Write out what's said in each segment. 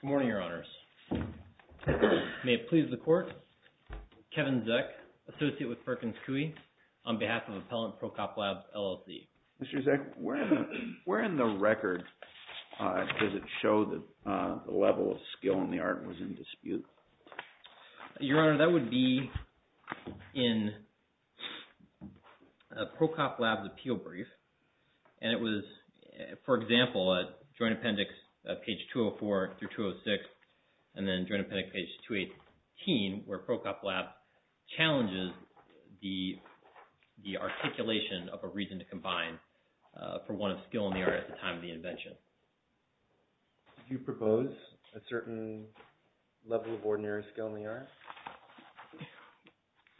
Good morning, Your Honors. May it please the Court, Kevin Zeck, Associate with Perkins Coie, on behalf of Appellant Prokop Labs, LLC. Mr. Zeck, where in the record does it show that the level of skill and the art was in dispute? Your Honor, that would be in page 206, and then during appendix page 218, where Prokop Labs challenges the articulation of a reason to combine for one of skill and the art at the time of the invention. Did you propose a certain level of ordinary skill in the art?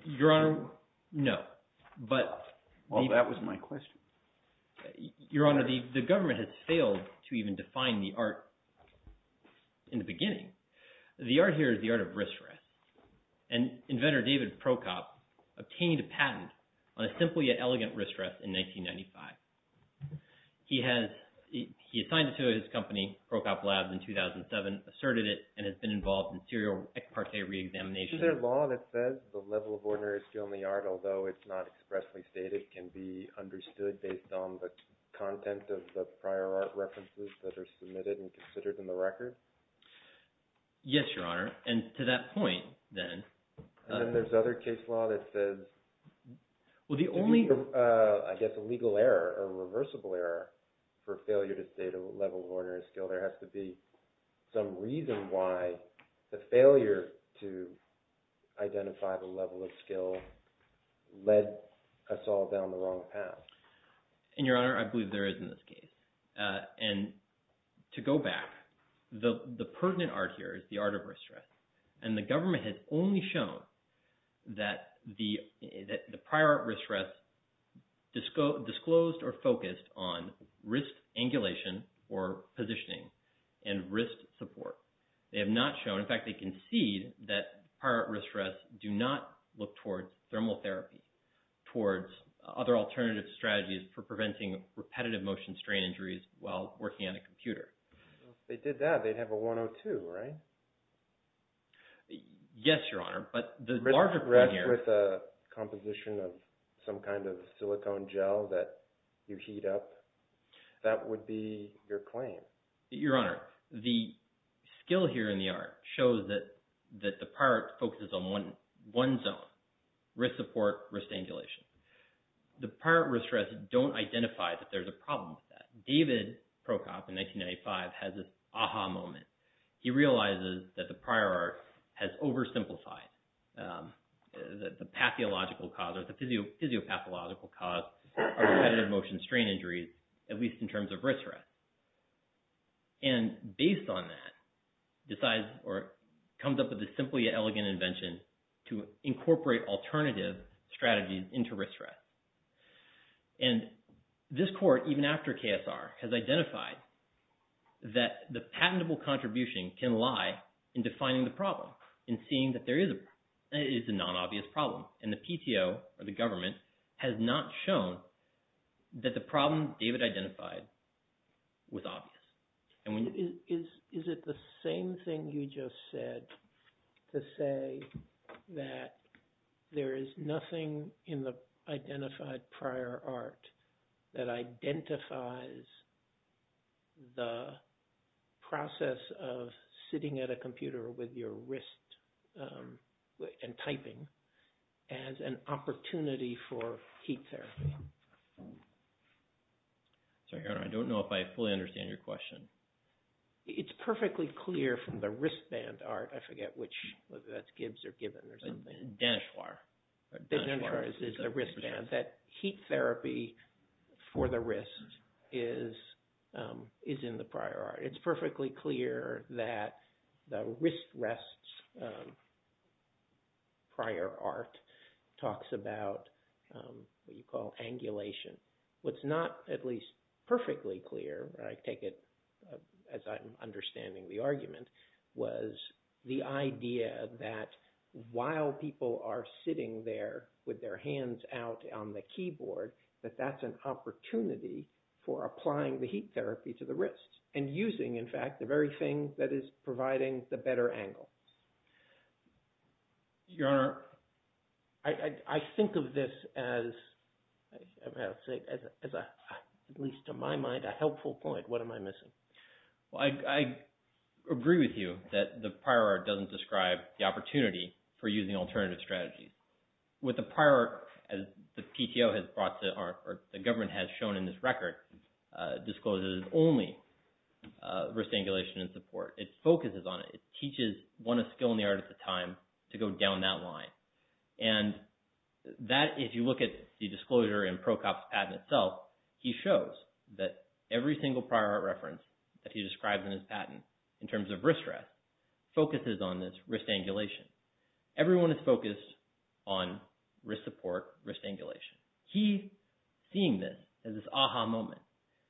Your Honor, no. Well, that was my question. Your Honor, the government has failed to even define the art in the beginning. The art here is the art of wrist rest, and inventor David Prokop obtained a patent on a simple yet elegant wrist rest in 1995. He assigned it to his company, Prokop Labs, in 2007, asserted it, and has been involved in serial ex parte re-examination. Is there a law that says the level of ordinary skill in the art, although it's not expressly stated, can be understood based on the content of the prior art references that are submitted and considered in the record? Yes, Your Honor, and to that point, then... And then there's other case law that says... Well, the only... I guess a legal error or reversible error for failure to state a level of ordinary skill, there has to be some reason why the failure to identify the level of skill led us all down the wrong path. And Your Honor, I believe there is in this case. And to go back, the pertinent art here is the art of wrist rest, and the government has only shown that the prior wrist rest disclosed or focused on wrist angulation or positioning and wrist support. They have not thermal therapy, towards other alternative strategies for preventing repetitive motion strain injuries while working on a computer. If they did that, they'd have a 102, right? Yes, Your Honor, but the larger... Wrist rest with a composition of some kind of silicone gel that you heat up, that would be your claim. Your Honor, the skill here in the art shows that the prior art focuses on one zone, wrist support, wrist angulation. The prior wrist rest don't identify that there's a problem with that. David Prokop in 1995 has this aha moment. He realizes that the prior art has oversimplified the pathological cause or the physiopathological cause of repetitive motion strain injuries, at least in terms of wrist rest. And based on that, decides or comes up with a simple yet elegant invention to incorporate alternative strategies into wrist rest. And this court, even after KSR, has identified that the patentable contribution can lie in defining the problem and seeing that there is a non-obvious problem. And the PTO or the government has not shown that the problem David identified was obvious. Is it the same thing you just said to say that there is nothing in the identified prior art that identifies the process of sitting at a computer with your wrist and typing as an opportunity for heat therapy? Sorry, Your Honor, I don't know if I fully understand your question. It's perfectly clear from the wristband art, I forget which, whether that's Gibbs or Gibbons or something. Denochoir. Denochoir is the wristband. That heat therapy for the wrist is in the prior art. It's perfectly clear that the wrist rests prior art talks about what you call angulation. What's not at least perfectly clear, I take it as I'm understanding the argument, was the idea that while people are sitting there with their hands out on the keyboard, that that's an opportunity for applying the heat therapy to the wrist and using, in fact, the very thing that is providing the better angles. Your Honor, I think of this as, at least to my mind, a helpful point. What am I missing? Well, I agree with you that the prior art doesn't describe the opportunity for using alternative strategies. With the prior art, as the PTO has brought to, or the government has shown in this record, discloses only wrist angulation and support. It focuses on it. It teaches one skill in the art at a time to go down that line. And that, if you look at the disclosure in Prokop's patent itself, he shows that every single prior art reference that he describes in his patent, in terms of wrist rest, focuses on this wrist angulation. Everyone is focused on wrist support, wrist angulation. He's seeing this as this aha moment.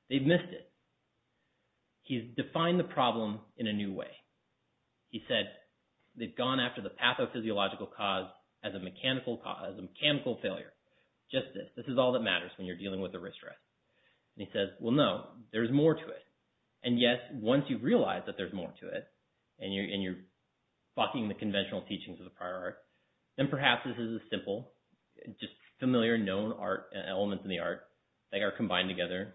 They've missed it. He's defined the problem in a new way. He said, they've gone after the pathophysiological cause as a mechanical cause, a mechanical failure. Just this. This is all that matters when you're dealing with a wrist rest. And he says, well, no, there's more to it. And yes, once you've realized that there's more to it, and you're bucking the conventional teachings of the prior art, then perhaps this is simple, just familiar, known art elements in the art that are combined together.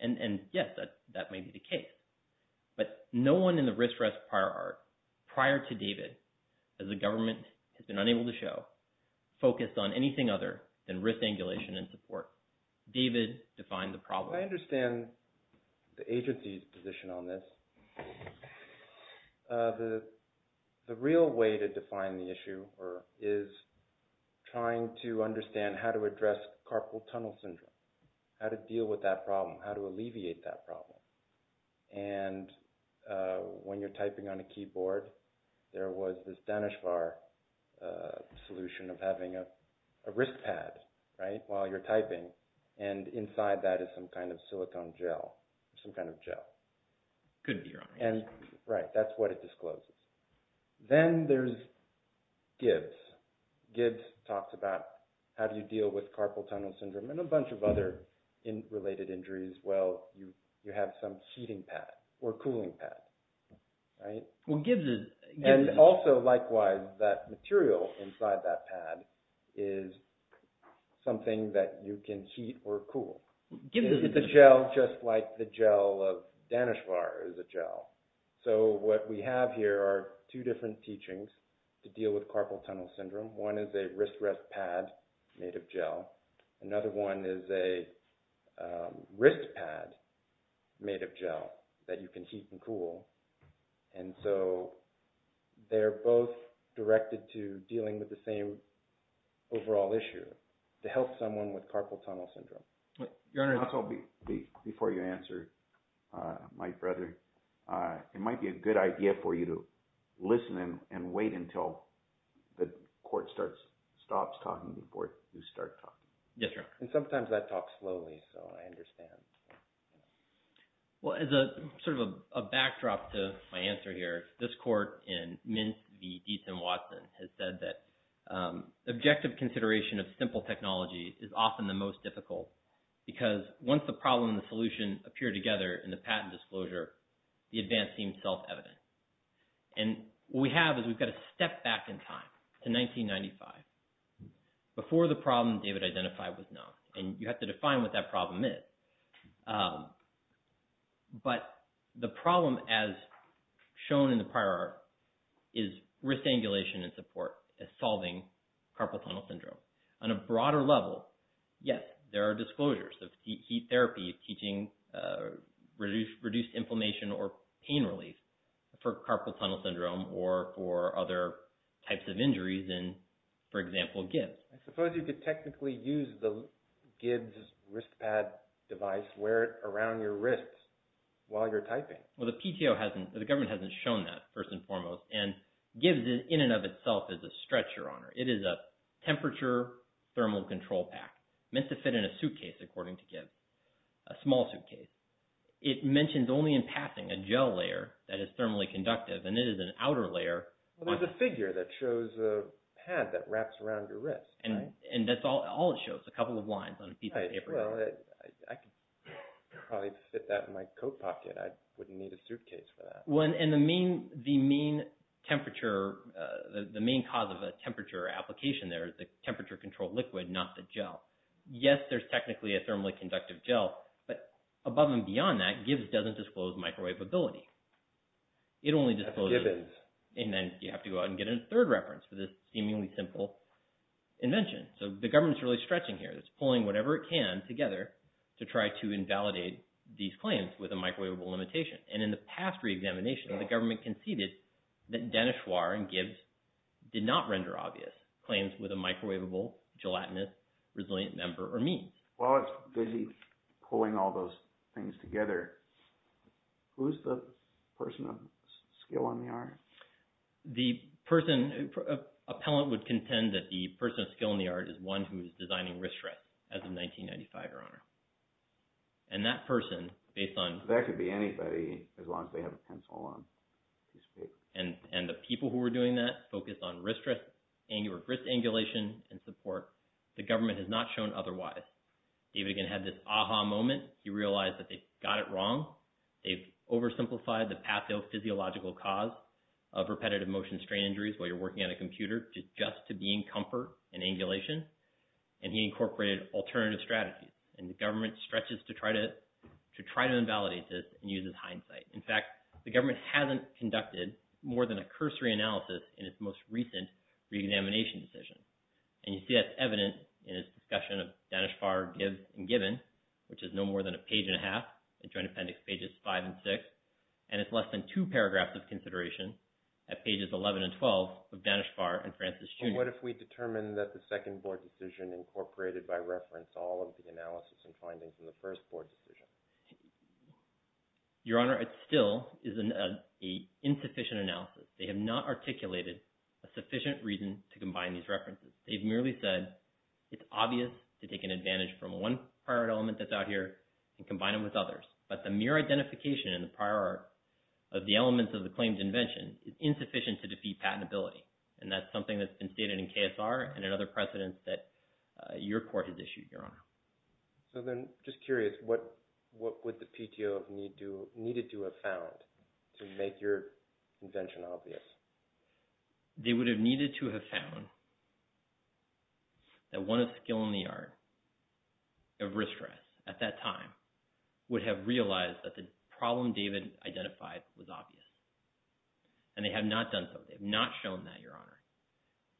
And yes, that may be the case. But no one in the wrist rest prior art, prior to David, as the government has been unable to show, focused on anything other than wrist angulation and support. David defined the problem. I understand the agency's position on this. The real way to define the issue is trying to understand how to address carpal tunnel syndrome, how to deal with that problem, how to alleviate that problem. And when you're typing on a keyboard, there was this Danish bar solution of having a wrist pad, right, while you're typing. And inside that is some kind of silicone gel, some kind of gel. Could be, Your Honor. Right. That's what it discloses. Then there's Gibbs. Gibbs talks about how do you deal with carpal tunnel syndrome and a bunch of other related injuries. Well, you have some heating pad or cooling pad, right? And also, likewise, that material inside that pad is something that you can heat or cool. Is the gel just like the gel of Danish bar is a gel? So what we have here are two different teachings to deal with carpal tunnel syndrome. One is a wrist rest pad made of gel. Another one is a wrist pad made of gel that you can heat and cool. And so they're both directed to dealing with the same overall issue, to help someone with carpal tunnel syndrome. Before you answer, my brother, it might be a good idea for you to listen and wait until the court stops talking before you start talking. Yes, Your Honor. And sometimes that talks slowly, so I understand. Well, as a sort of a backdrop to my answer here, this court in Mint v. Deason Watson has said that objective consideration of simple technology is often the most difficult because once the problem and the solution appear together in the patent disclosure, the advance seems self-evident. And what we have is we've got to step back in time to 1995 before the problem David identified was known. And you have to define what that problem is. But the problem as shown in the prior is wrist angulation and support as solving carpal tunnel syndrome. On a broader level, yes, there are disclosures of heat therapy, teaching reduced inflammation or pain relief for carpal tunnel syndrome or for other types of injuries in, for example, Gibbs. I suppose you could technically use the Gibbs wrist pad device, wear it around your wrist while you're typing. Well, the PTO hasn't, the government hasn't shown that first and foremost and Gibbs in and of itself is a stretch, Your Honor. It is a temperature thermal control pack meant to fit in a suitcase, according to Gibbs, a small suitcase. It mentions only in passing a gel layer that is thermally conductive and it is an outer layer. Well, there's a figure that shows a pad that wraps around your wrist. And that's all it shows, a couple of lines on a piece of paper. Well, I could probably fit that in my coat pocket. I wouldn't need a suitcase for that. And the main temperature, the main cause of a temperature application there is the temperature control liquid, not the gel. Yes, there's technically a thermally conductive gel, but above and beyond that Gibbs doesn't disclose microwave ability. It only discloses, and then you have to go out and get a third reference for this seemingly simple invention. So the government's really stretching here. It's pulling whatever it can together to try to invalidate these claims with a microwavable limitation. And in the past re-examination, the government conceded that Denochoir and Gibbs did not render obvious claims with a microwavable, gelatinous, resilient member or means. While it's busy pulling all those things together, who's the person of skill on the art? The person, an appellant would contend that the person of skill in the art is one who is designing wrist rest as of 1995, your honor. And that person based on... That could be anybody as long as they have a pencil on this paper. And the people who were doing that focused on wrist rest, angular wrist angulation and support. The government has not shown otherwise. David again had this aha moment. He realized that they got it wrong. They've oversimplified the pathophysiological cause of repetitive motion strain injuries while you're working on a computer just to be in comfort and angulation. And he incorporated alternative strategies. And the government stretches to try to invalidate this and use his hindsight. In fact, the government hasn't conducted more than a cursory analysis in its most recent re-examination decision. And you see that's in the section of Danischvar, Gibbs, and Gibbon, which is no more than a page and a half, the Joint Appendix pages five and six. And it's less than two paragraphs of consideration at pages 11 and 12 of Danischvar and Francis Junior. And what if we determine that the second board decision incorporated by reference all of the analysis and findings in the first board decision? Your honor, it still is an insufficient analysis. They have not articulated a sufficient reason to combine these references. They've merely said, it's obvious to take an advantage from one prior element that's out here and combine it with others. But the mere identification in the prior art of the elements of the claims invention is insufficient to defeat patentability. And that's something that's been stated in KSR and in other precedents that your court has issued, your honor. So then just curious, what would the PTO needed to have found to make your invention obvious? They would have needed to have found that one of skill in the art of wrist rest at that time would have realized that the problem David identified was obvious. And they have not done so. They've not shown that, your honor.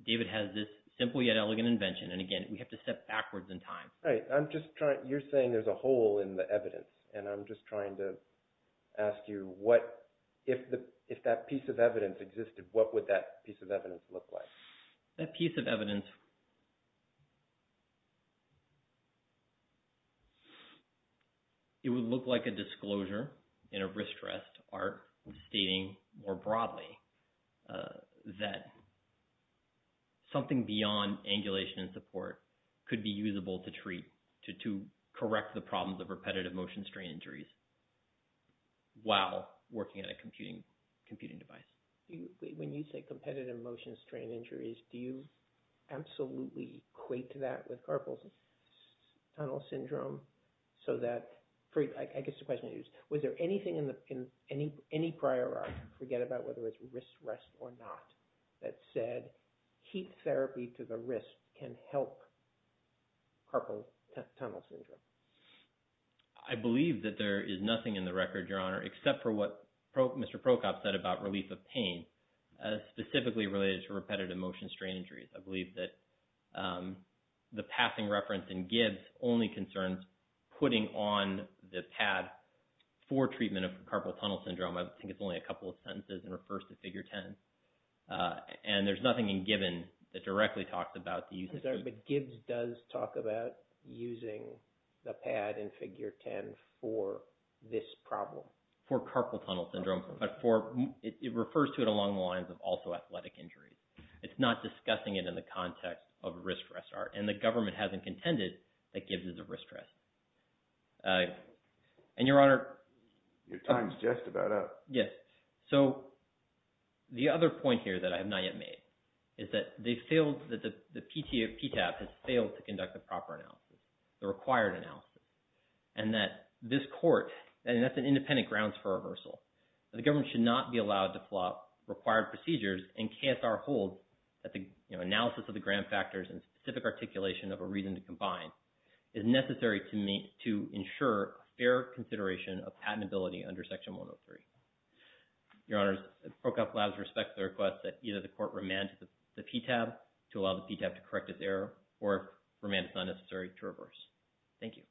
David has this simple yet elegant invention. And again, we have to step backwards in time. Right. I'm just trying, you're saying there's a hole in the evidence and I'm just trying to ask you what, if that piece of evidence existed, what would that piece of evidence look like? That piece of evidence, it would look like a disclosure in a wrist rest art stating more broadly that something beyond angulation and support could be usable to treat, to correct the problems of repetitive motion strain injuries while working at a computing device. When you say competitive motion strain injuries, do you absolutely equate to that with carpal tunnel syndrome? So that, I guess the question is, was there anything in any prior art, forget about whether it's wrist rest or not, that said heat therapy to the wrist can help carpal tunnel syndrome? I believe that there is nothing in the record, your honor, except for what Mr. Prokop said about relief of pain, specifically related to repetitive motion strain injuries. I believe that the passing reference in Gibbs only concerns putting on the pad for treatment of carpal tunnel syndrome. I think it's only a couple of sentences and refers to figure 10. Uh, and there's nothing in Gibbons that directly talks about the use of- But Gibbs does talk about using the pad in figure 10 for this problem. For carpal tunnel syndrome, but for, it refers to it along the lines of also athletic injuries. It's not discussing it in the context of wrist rest art and the government hasn't contended that Gibbs is a wrist rest. Uh, and your honor- Your time's just about up. Yes. So the other point here that I have not yet made is that they failed, that the PTA, PTAP has failed to conduct the proper analysis, the required analysis, and that this court, and that's an independent grounds for reversal. The government should not be allowed to flop required procedures and KSR holds that the analysis of the grant factors and specific articulation of a reason to combine is necessary to ensure fair consideration of patentability under section 103. Your honors, Procop Labs respects the request that either the court remand the PTAB to allow the PTAB to correct its error or if remand is not necessary to reverse. Thank you.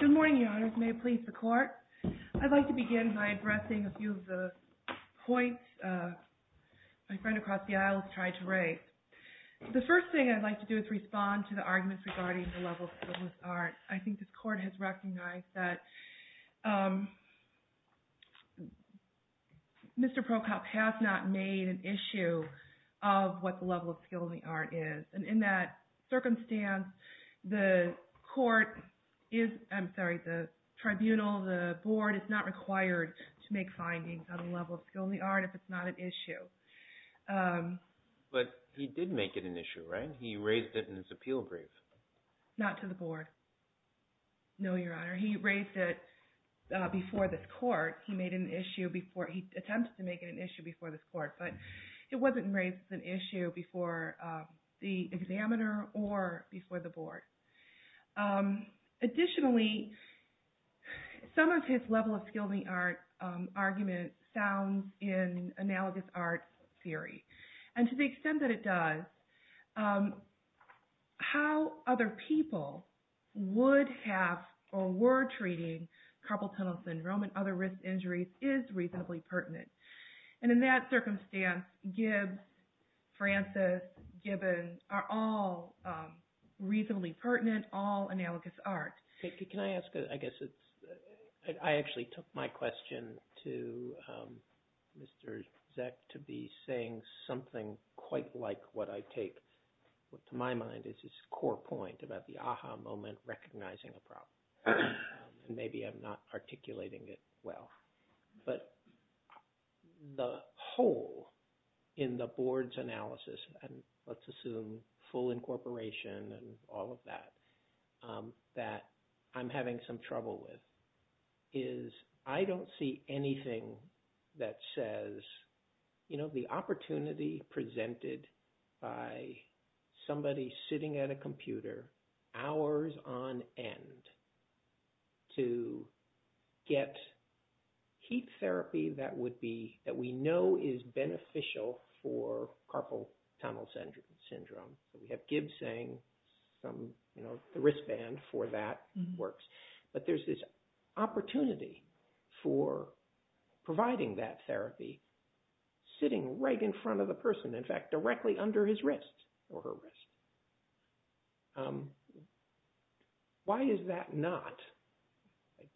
Good morning, your honors. May it please the court. I'd like to begin by addressing a few of the points my friend across the aisle has tried to raise. The first thing I'd like to do is respond to the arguments regarding the level of skill in the art. I think this court has recognized that Mr. Procop has not made an issue of what the level of skill in the art is and in that circumstance, the court is, I'm sorry, the tribunal, the board is not required to make an issue of skill in the art if it's not an issue. But he did make it an issue, right? He raised it in his appeal brief. Not to the board. No, your honor. He raised it before this court. He attempted to make it an issue before this court, but it wasn't raised as an issue before the examiner or before the board. Additionally, some of his level of skill in the art argument sounds in analogous art theory. And to the extent that it does, how other people would have or were treating carpal tunnel syndrome and other pertinent, all analogous art. Can I ask, I guess, I actually took my question to Mr. Zeck to be saying something quite like what I take to my mind is his core point about the aha moment, recognizing a problem. And maybe I'm not articulating it well. But the whole in the board's analysis, and let's talk about that, that I'm having some trouble with is I don't see anything that says, you know, the opportunity presented by somebody sitting at a computer hours on end to get heat therapy that would be that we know the wristband for that works, but there's this opportunity for providing that therapy sitting right in front of the person, in fact, directly under his wrist or her wrist. Why is that not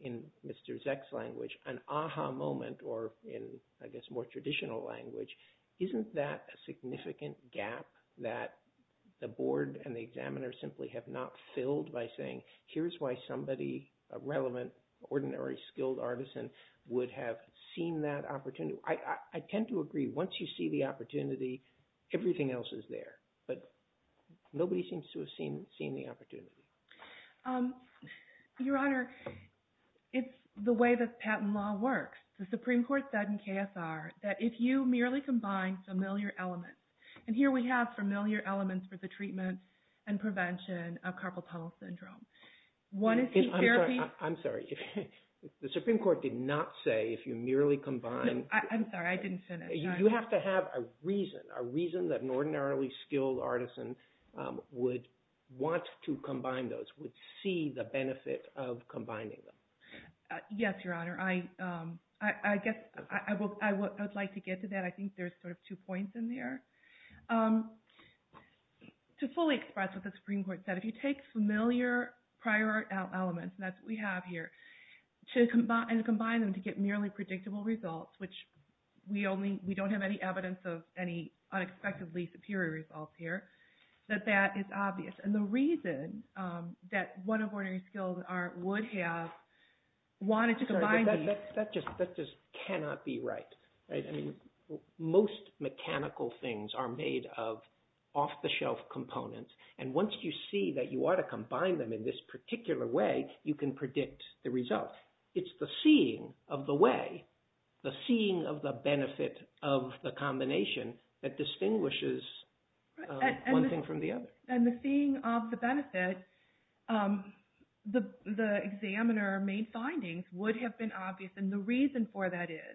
in Mr. Zeck's language, an aha moment, or in, I guess, more traditional language, isn't that a significant gap that the board and the examiner simply have not filled by saying, here's why somebody, a relevant, ordinary, skilled artisan would have seen that opportunity. I tend to agree. Once you see the opportunity, everything else is there. But nobody seems to have seen the opportunity. Your Honor, it's the way that patent law works. The Supreme Court said in KSR that if you merely combine familiar elements, and here we have familiar elements for the treatment and prevention of carpal tunnel syndrome. One is heat therapy. I'm sorry, the Supreme Court did not say if you merely combine. I'm sorry, I didn't finish. You have to have a reason, a reason that an ordinarily skilled artisan would want to combine those, would see the benefit of combining them. Yes, Your Honor. I guess I would like to get to that. I think there's sort of two points in there. To fully express what the Supreme Court said, if you take familiar prior art elements, and that's what we have here, and combine them to get merely predictable results, which we don't have any evidence of any unexpectedly superior results here, that that is obvious. And the reason that one of ordinary skilled art would have wanted to combine. That just cannot be right. Most mechanical things are made of off-the-shelf components, and once you see that you are to combine them in this particular way, you can predict the results. It's the seeing of the way, the seeing of the benefit of the combination that distinguishes one thing from the other. And the seeing of the benefit, the examiner made findings would have been obvious, and the reason for that is,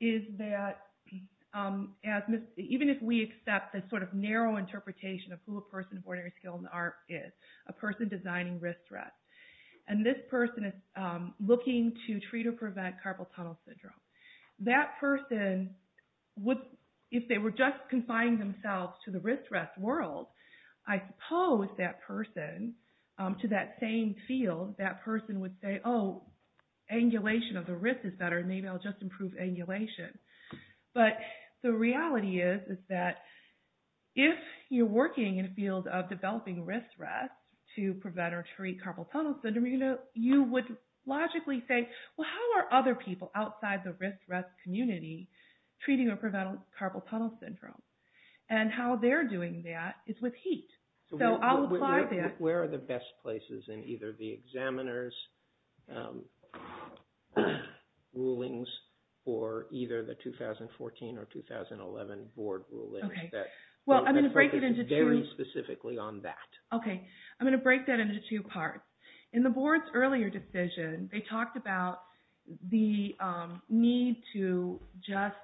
is that even if we accept the sort of narrow interpretation of who a person of ordinary skilled art is, a person designing wrist rests, and this person is looking to treat or prevent carpal tunnel syndrome, that person would, if they were just confining themselves to the wrist rest world, I suppose that person, to that same field, that person would say, oh, angulation of the wrist is better, maybe I'll just improve angulation. But the reality is, is that if you're working in a field of developing wrist rests to prevent or treat carpal tunnel syndrome, you know, you would logically say, well, how are other people outside the wrist rest community treating or preventing carpal tunnel syndrome? And how they're doing that is with heat. So I'll apply that. Where are the best places in either the examiner's rulings or either the 2014 or 2011 board rulings that focus very specifically on that? Okay, I'm going to break that into two parts. In the board's earlier decision, they talked about the need to just,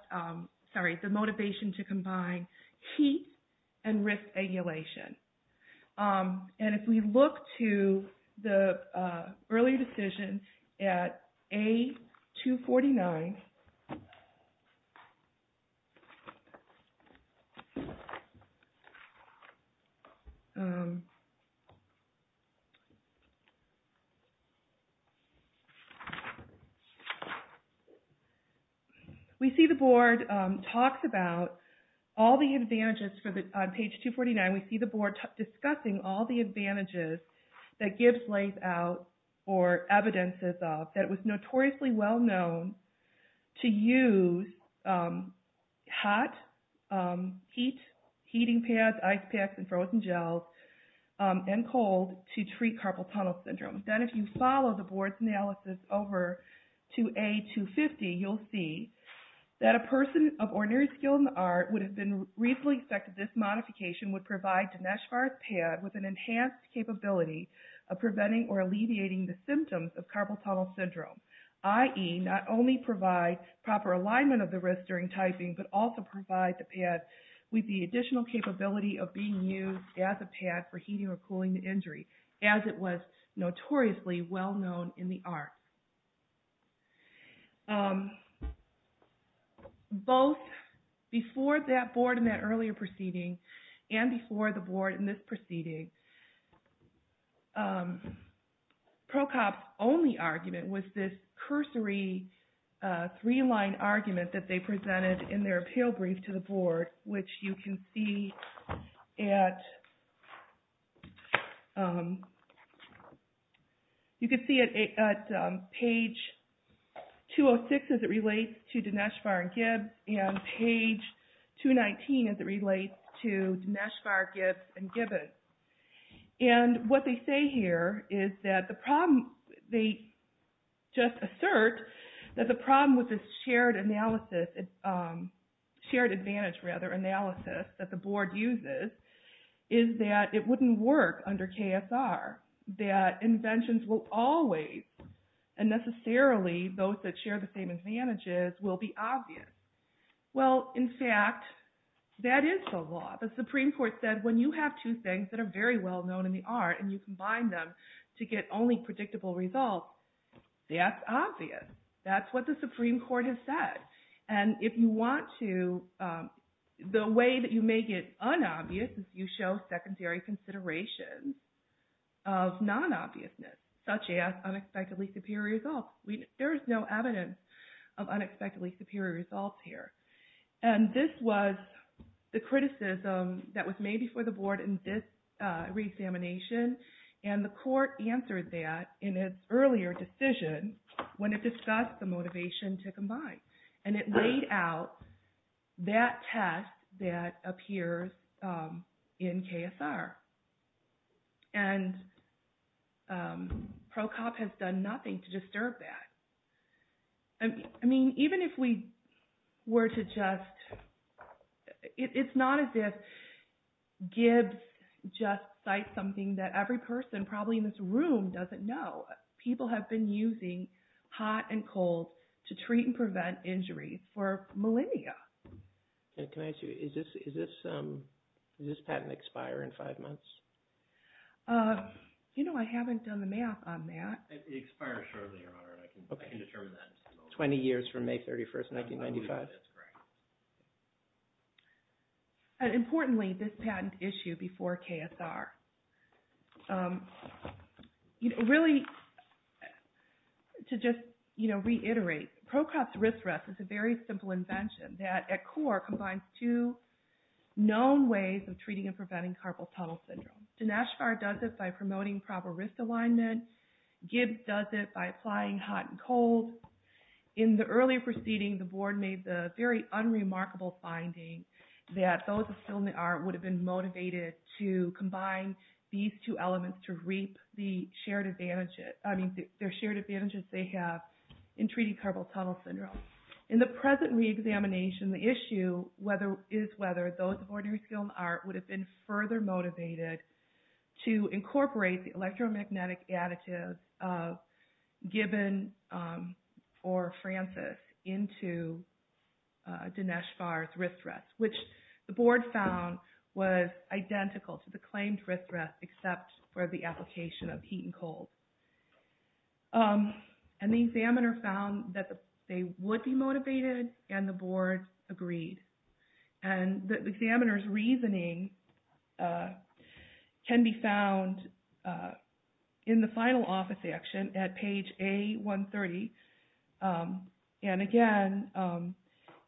sorry, the motivation to combine heat and wrist angulation. And if we look to the earlier decision at A-249, we see the board talks about all the advantages for the, on page 249, we see the board discussing all the advantages that Gibbs lays out or evidences of that was notoriously well known to use hot heat, heating pads, ice packs, and frozen gels, and cold to treat carpal tunnel syndrome. Then if you follow the board's analysis over to A-250, you'll see that a person of ordinary skill in the art would have been recently expected this modification would provide Dinesh Farr's pad with an enhanced capability of preventing or alleviating the symptoms of carpal tunnel syndrome, i.e. not only provide proper alignment of the wrist during typing, but also provide the pad with the additional capability of being used as a pad for heating or cooling the injury, as it was notoriously well known in the art. Both before that board in that earlier proceeding and before the board in this proceeding, Procop's only argument was this cursory three-line argument that they presented in their appeal brief to the board, which you can see at, you can see it at page 206 as it relates to Dinesh Farr and Gibbs and page 219 as it relates to Dinesh Farr, Gibbs, and Gibbons. And what they say here is that the problem, they just assert that the problem with this shared analysis, shared advantage rather analysis that the board uses is that it wouldn't work under KSR, that inventions will always and necessarily those that share the same advantages will be obvious. Well, in fact, that is the law. The Supreme Court said when you have two things that are very well known in the art and you combine them to get only predictable results, that's obvious. That's what the Supreme Court has said. And if you want to, the way that you make it unobvious is you show secondary considerations of non-obviousness such as unexpectedly superior results. There is no evidence of unexpectedly superior results here. And this was the criticism that was made before the board in this re-examination. And the court answered that in its earlier decision when it discussed the motivation to combine. And it laid out that test that appears in KSR. And PROCOP has done nothing to disturb that. I mean, even if we were to just, it's not as if Gibbs just cites something that every person probably in this room doesn't know. People have been using hot and cold to treat and prevent injuries for millennia. Can I ask you, does this patent expire in five months? You know, I haven't done the math on that. It expires shortly, Your Honor, and I can determine that. 20 years from May 31st, 1995. That's correct. And importantly, this patent issue before KSR. Really, to just reiterate, PROCOP's wrist rest is a very simple invention that at core combines two known ways of treating and preventing carpal tunnel syndrome. Dinashkar does it by promoting proper wrist alignment. Gibbs does it by applying hot and cold. In the earlier proceeding, the board made the very unremarkable finding that those who still are would have been motivated to combine these two elements to reap the shared advantages. I mean, their shared advantages they have in treating carpal tunnel syndrome. In the present re-examination, the issue is whether those who are still in the art would have been further motivated to incorporate the electromagnetic additive of Gibbon or Francis into Dineshkar's wrist rest, which the board found was identical to the claimed wrist rest except for the application of heat and cold. And the examiner found that they would be motivated and the board agreed. And the examiner's reasoning can be found in the final office action at page A-130 and again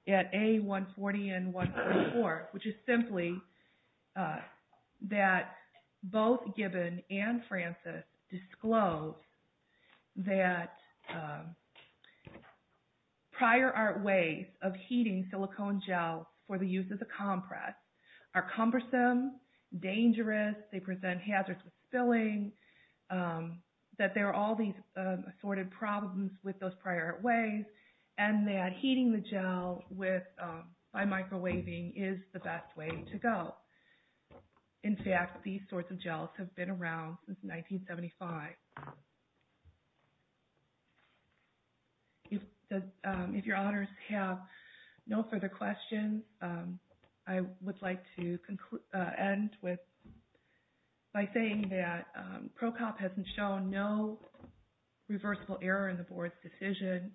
at A-140 and A-144, which is simply that both Gibbon and Francis disclose that prior art ways of heating silicone gel for the use of the compress are cumbersome, dangerous, they present hazards with spilling, that there are all these assorted problems with those prior art ways, and that heating the gel by microwaving is the best way to go. In fact, these sorts of gels have been around since 1975. If your honors have no further questions, I would like to end with by saying that Procop hasn't shown no reversible error in the board's decision.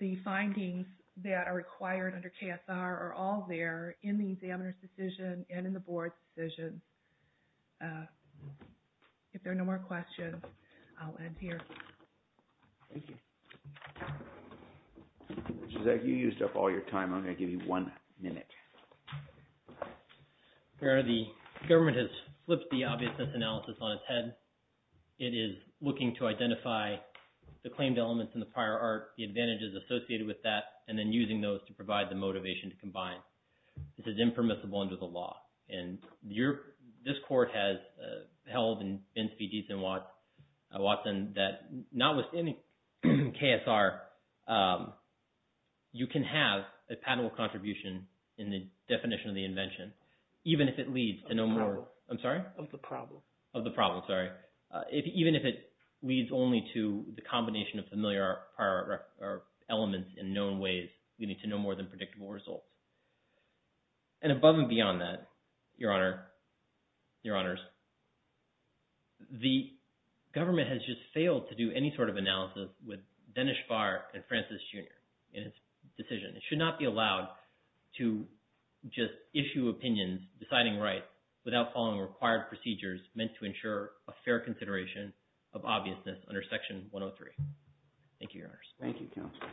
The findings that are required under Procop are all there in the examiner's decision and in the board's decision. If there are no more questions, I'll end here. Thank you. Zach, you used up all your time. I'm going to give you one minute. Your honor, the government has flipped the obviousness analysis on its head. It is looking to identify the claimed elements in the prior art, the advantages associated with that, and then using those to provide the motivation to combine. This is impermissible under the law. This court has held and been to be decent, Watson, that not with any KSR, you can have a patentable contribution in the definition of the invention, even if it leads to no more... Of the problem. I'm sorry? Of the problem. Of the problem, sorry. Even if it leads only to the combination of familiar prior art elements in known ways, we need to know more than predictable results. And above and beyond that, your honor, your honors, the government has just failed to do any sort of analysis with Dennis Farr and Francis Jr. in his decision. It should not be allowed to just issue opinions, deciding right, without following required procedures meant to ensure a fair consideration of obviousness under Section 103. Thank you, your honors. Thank you, counsel.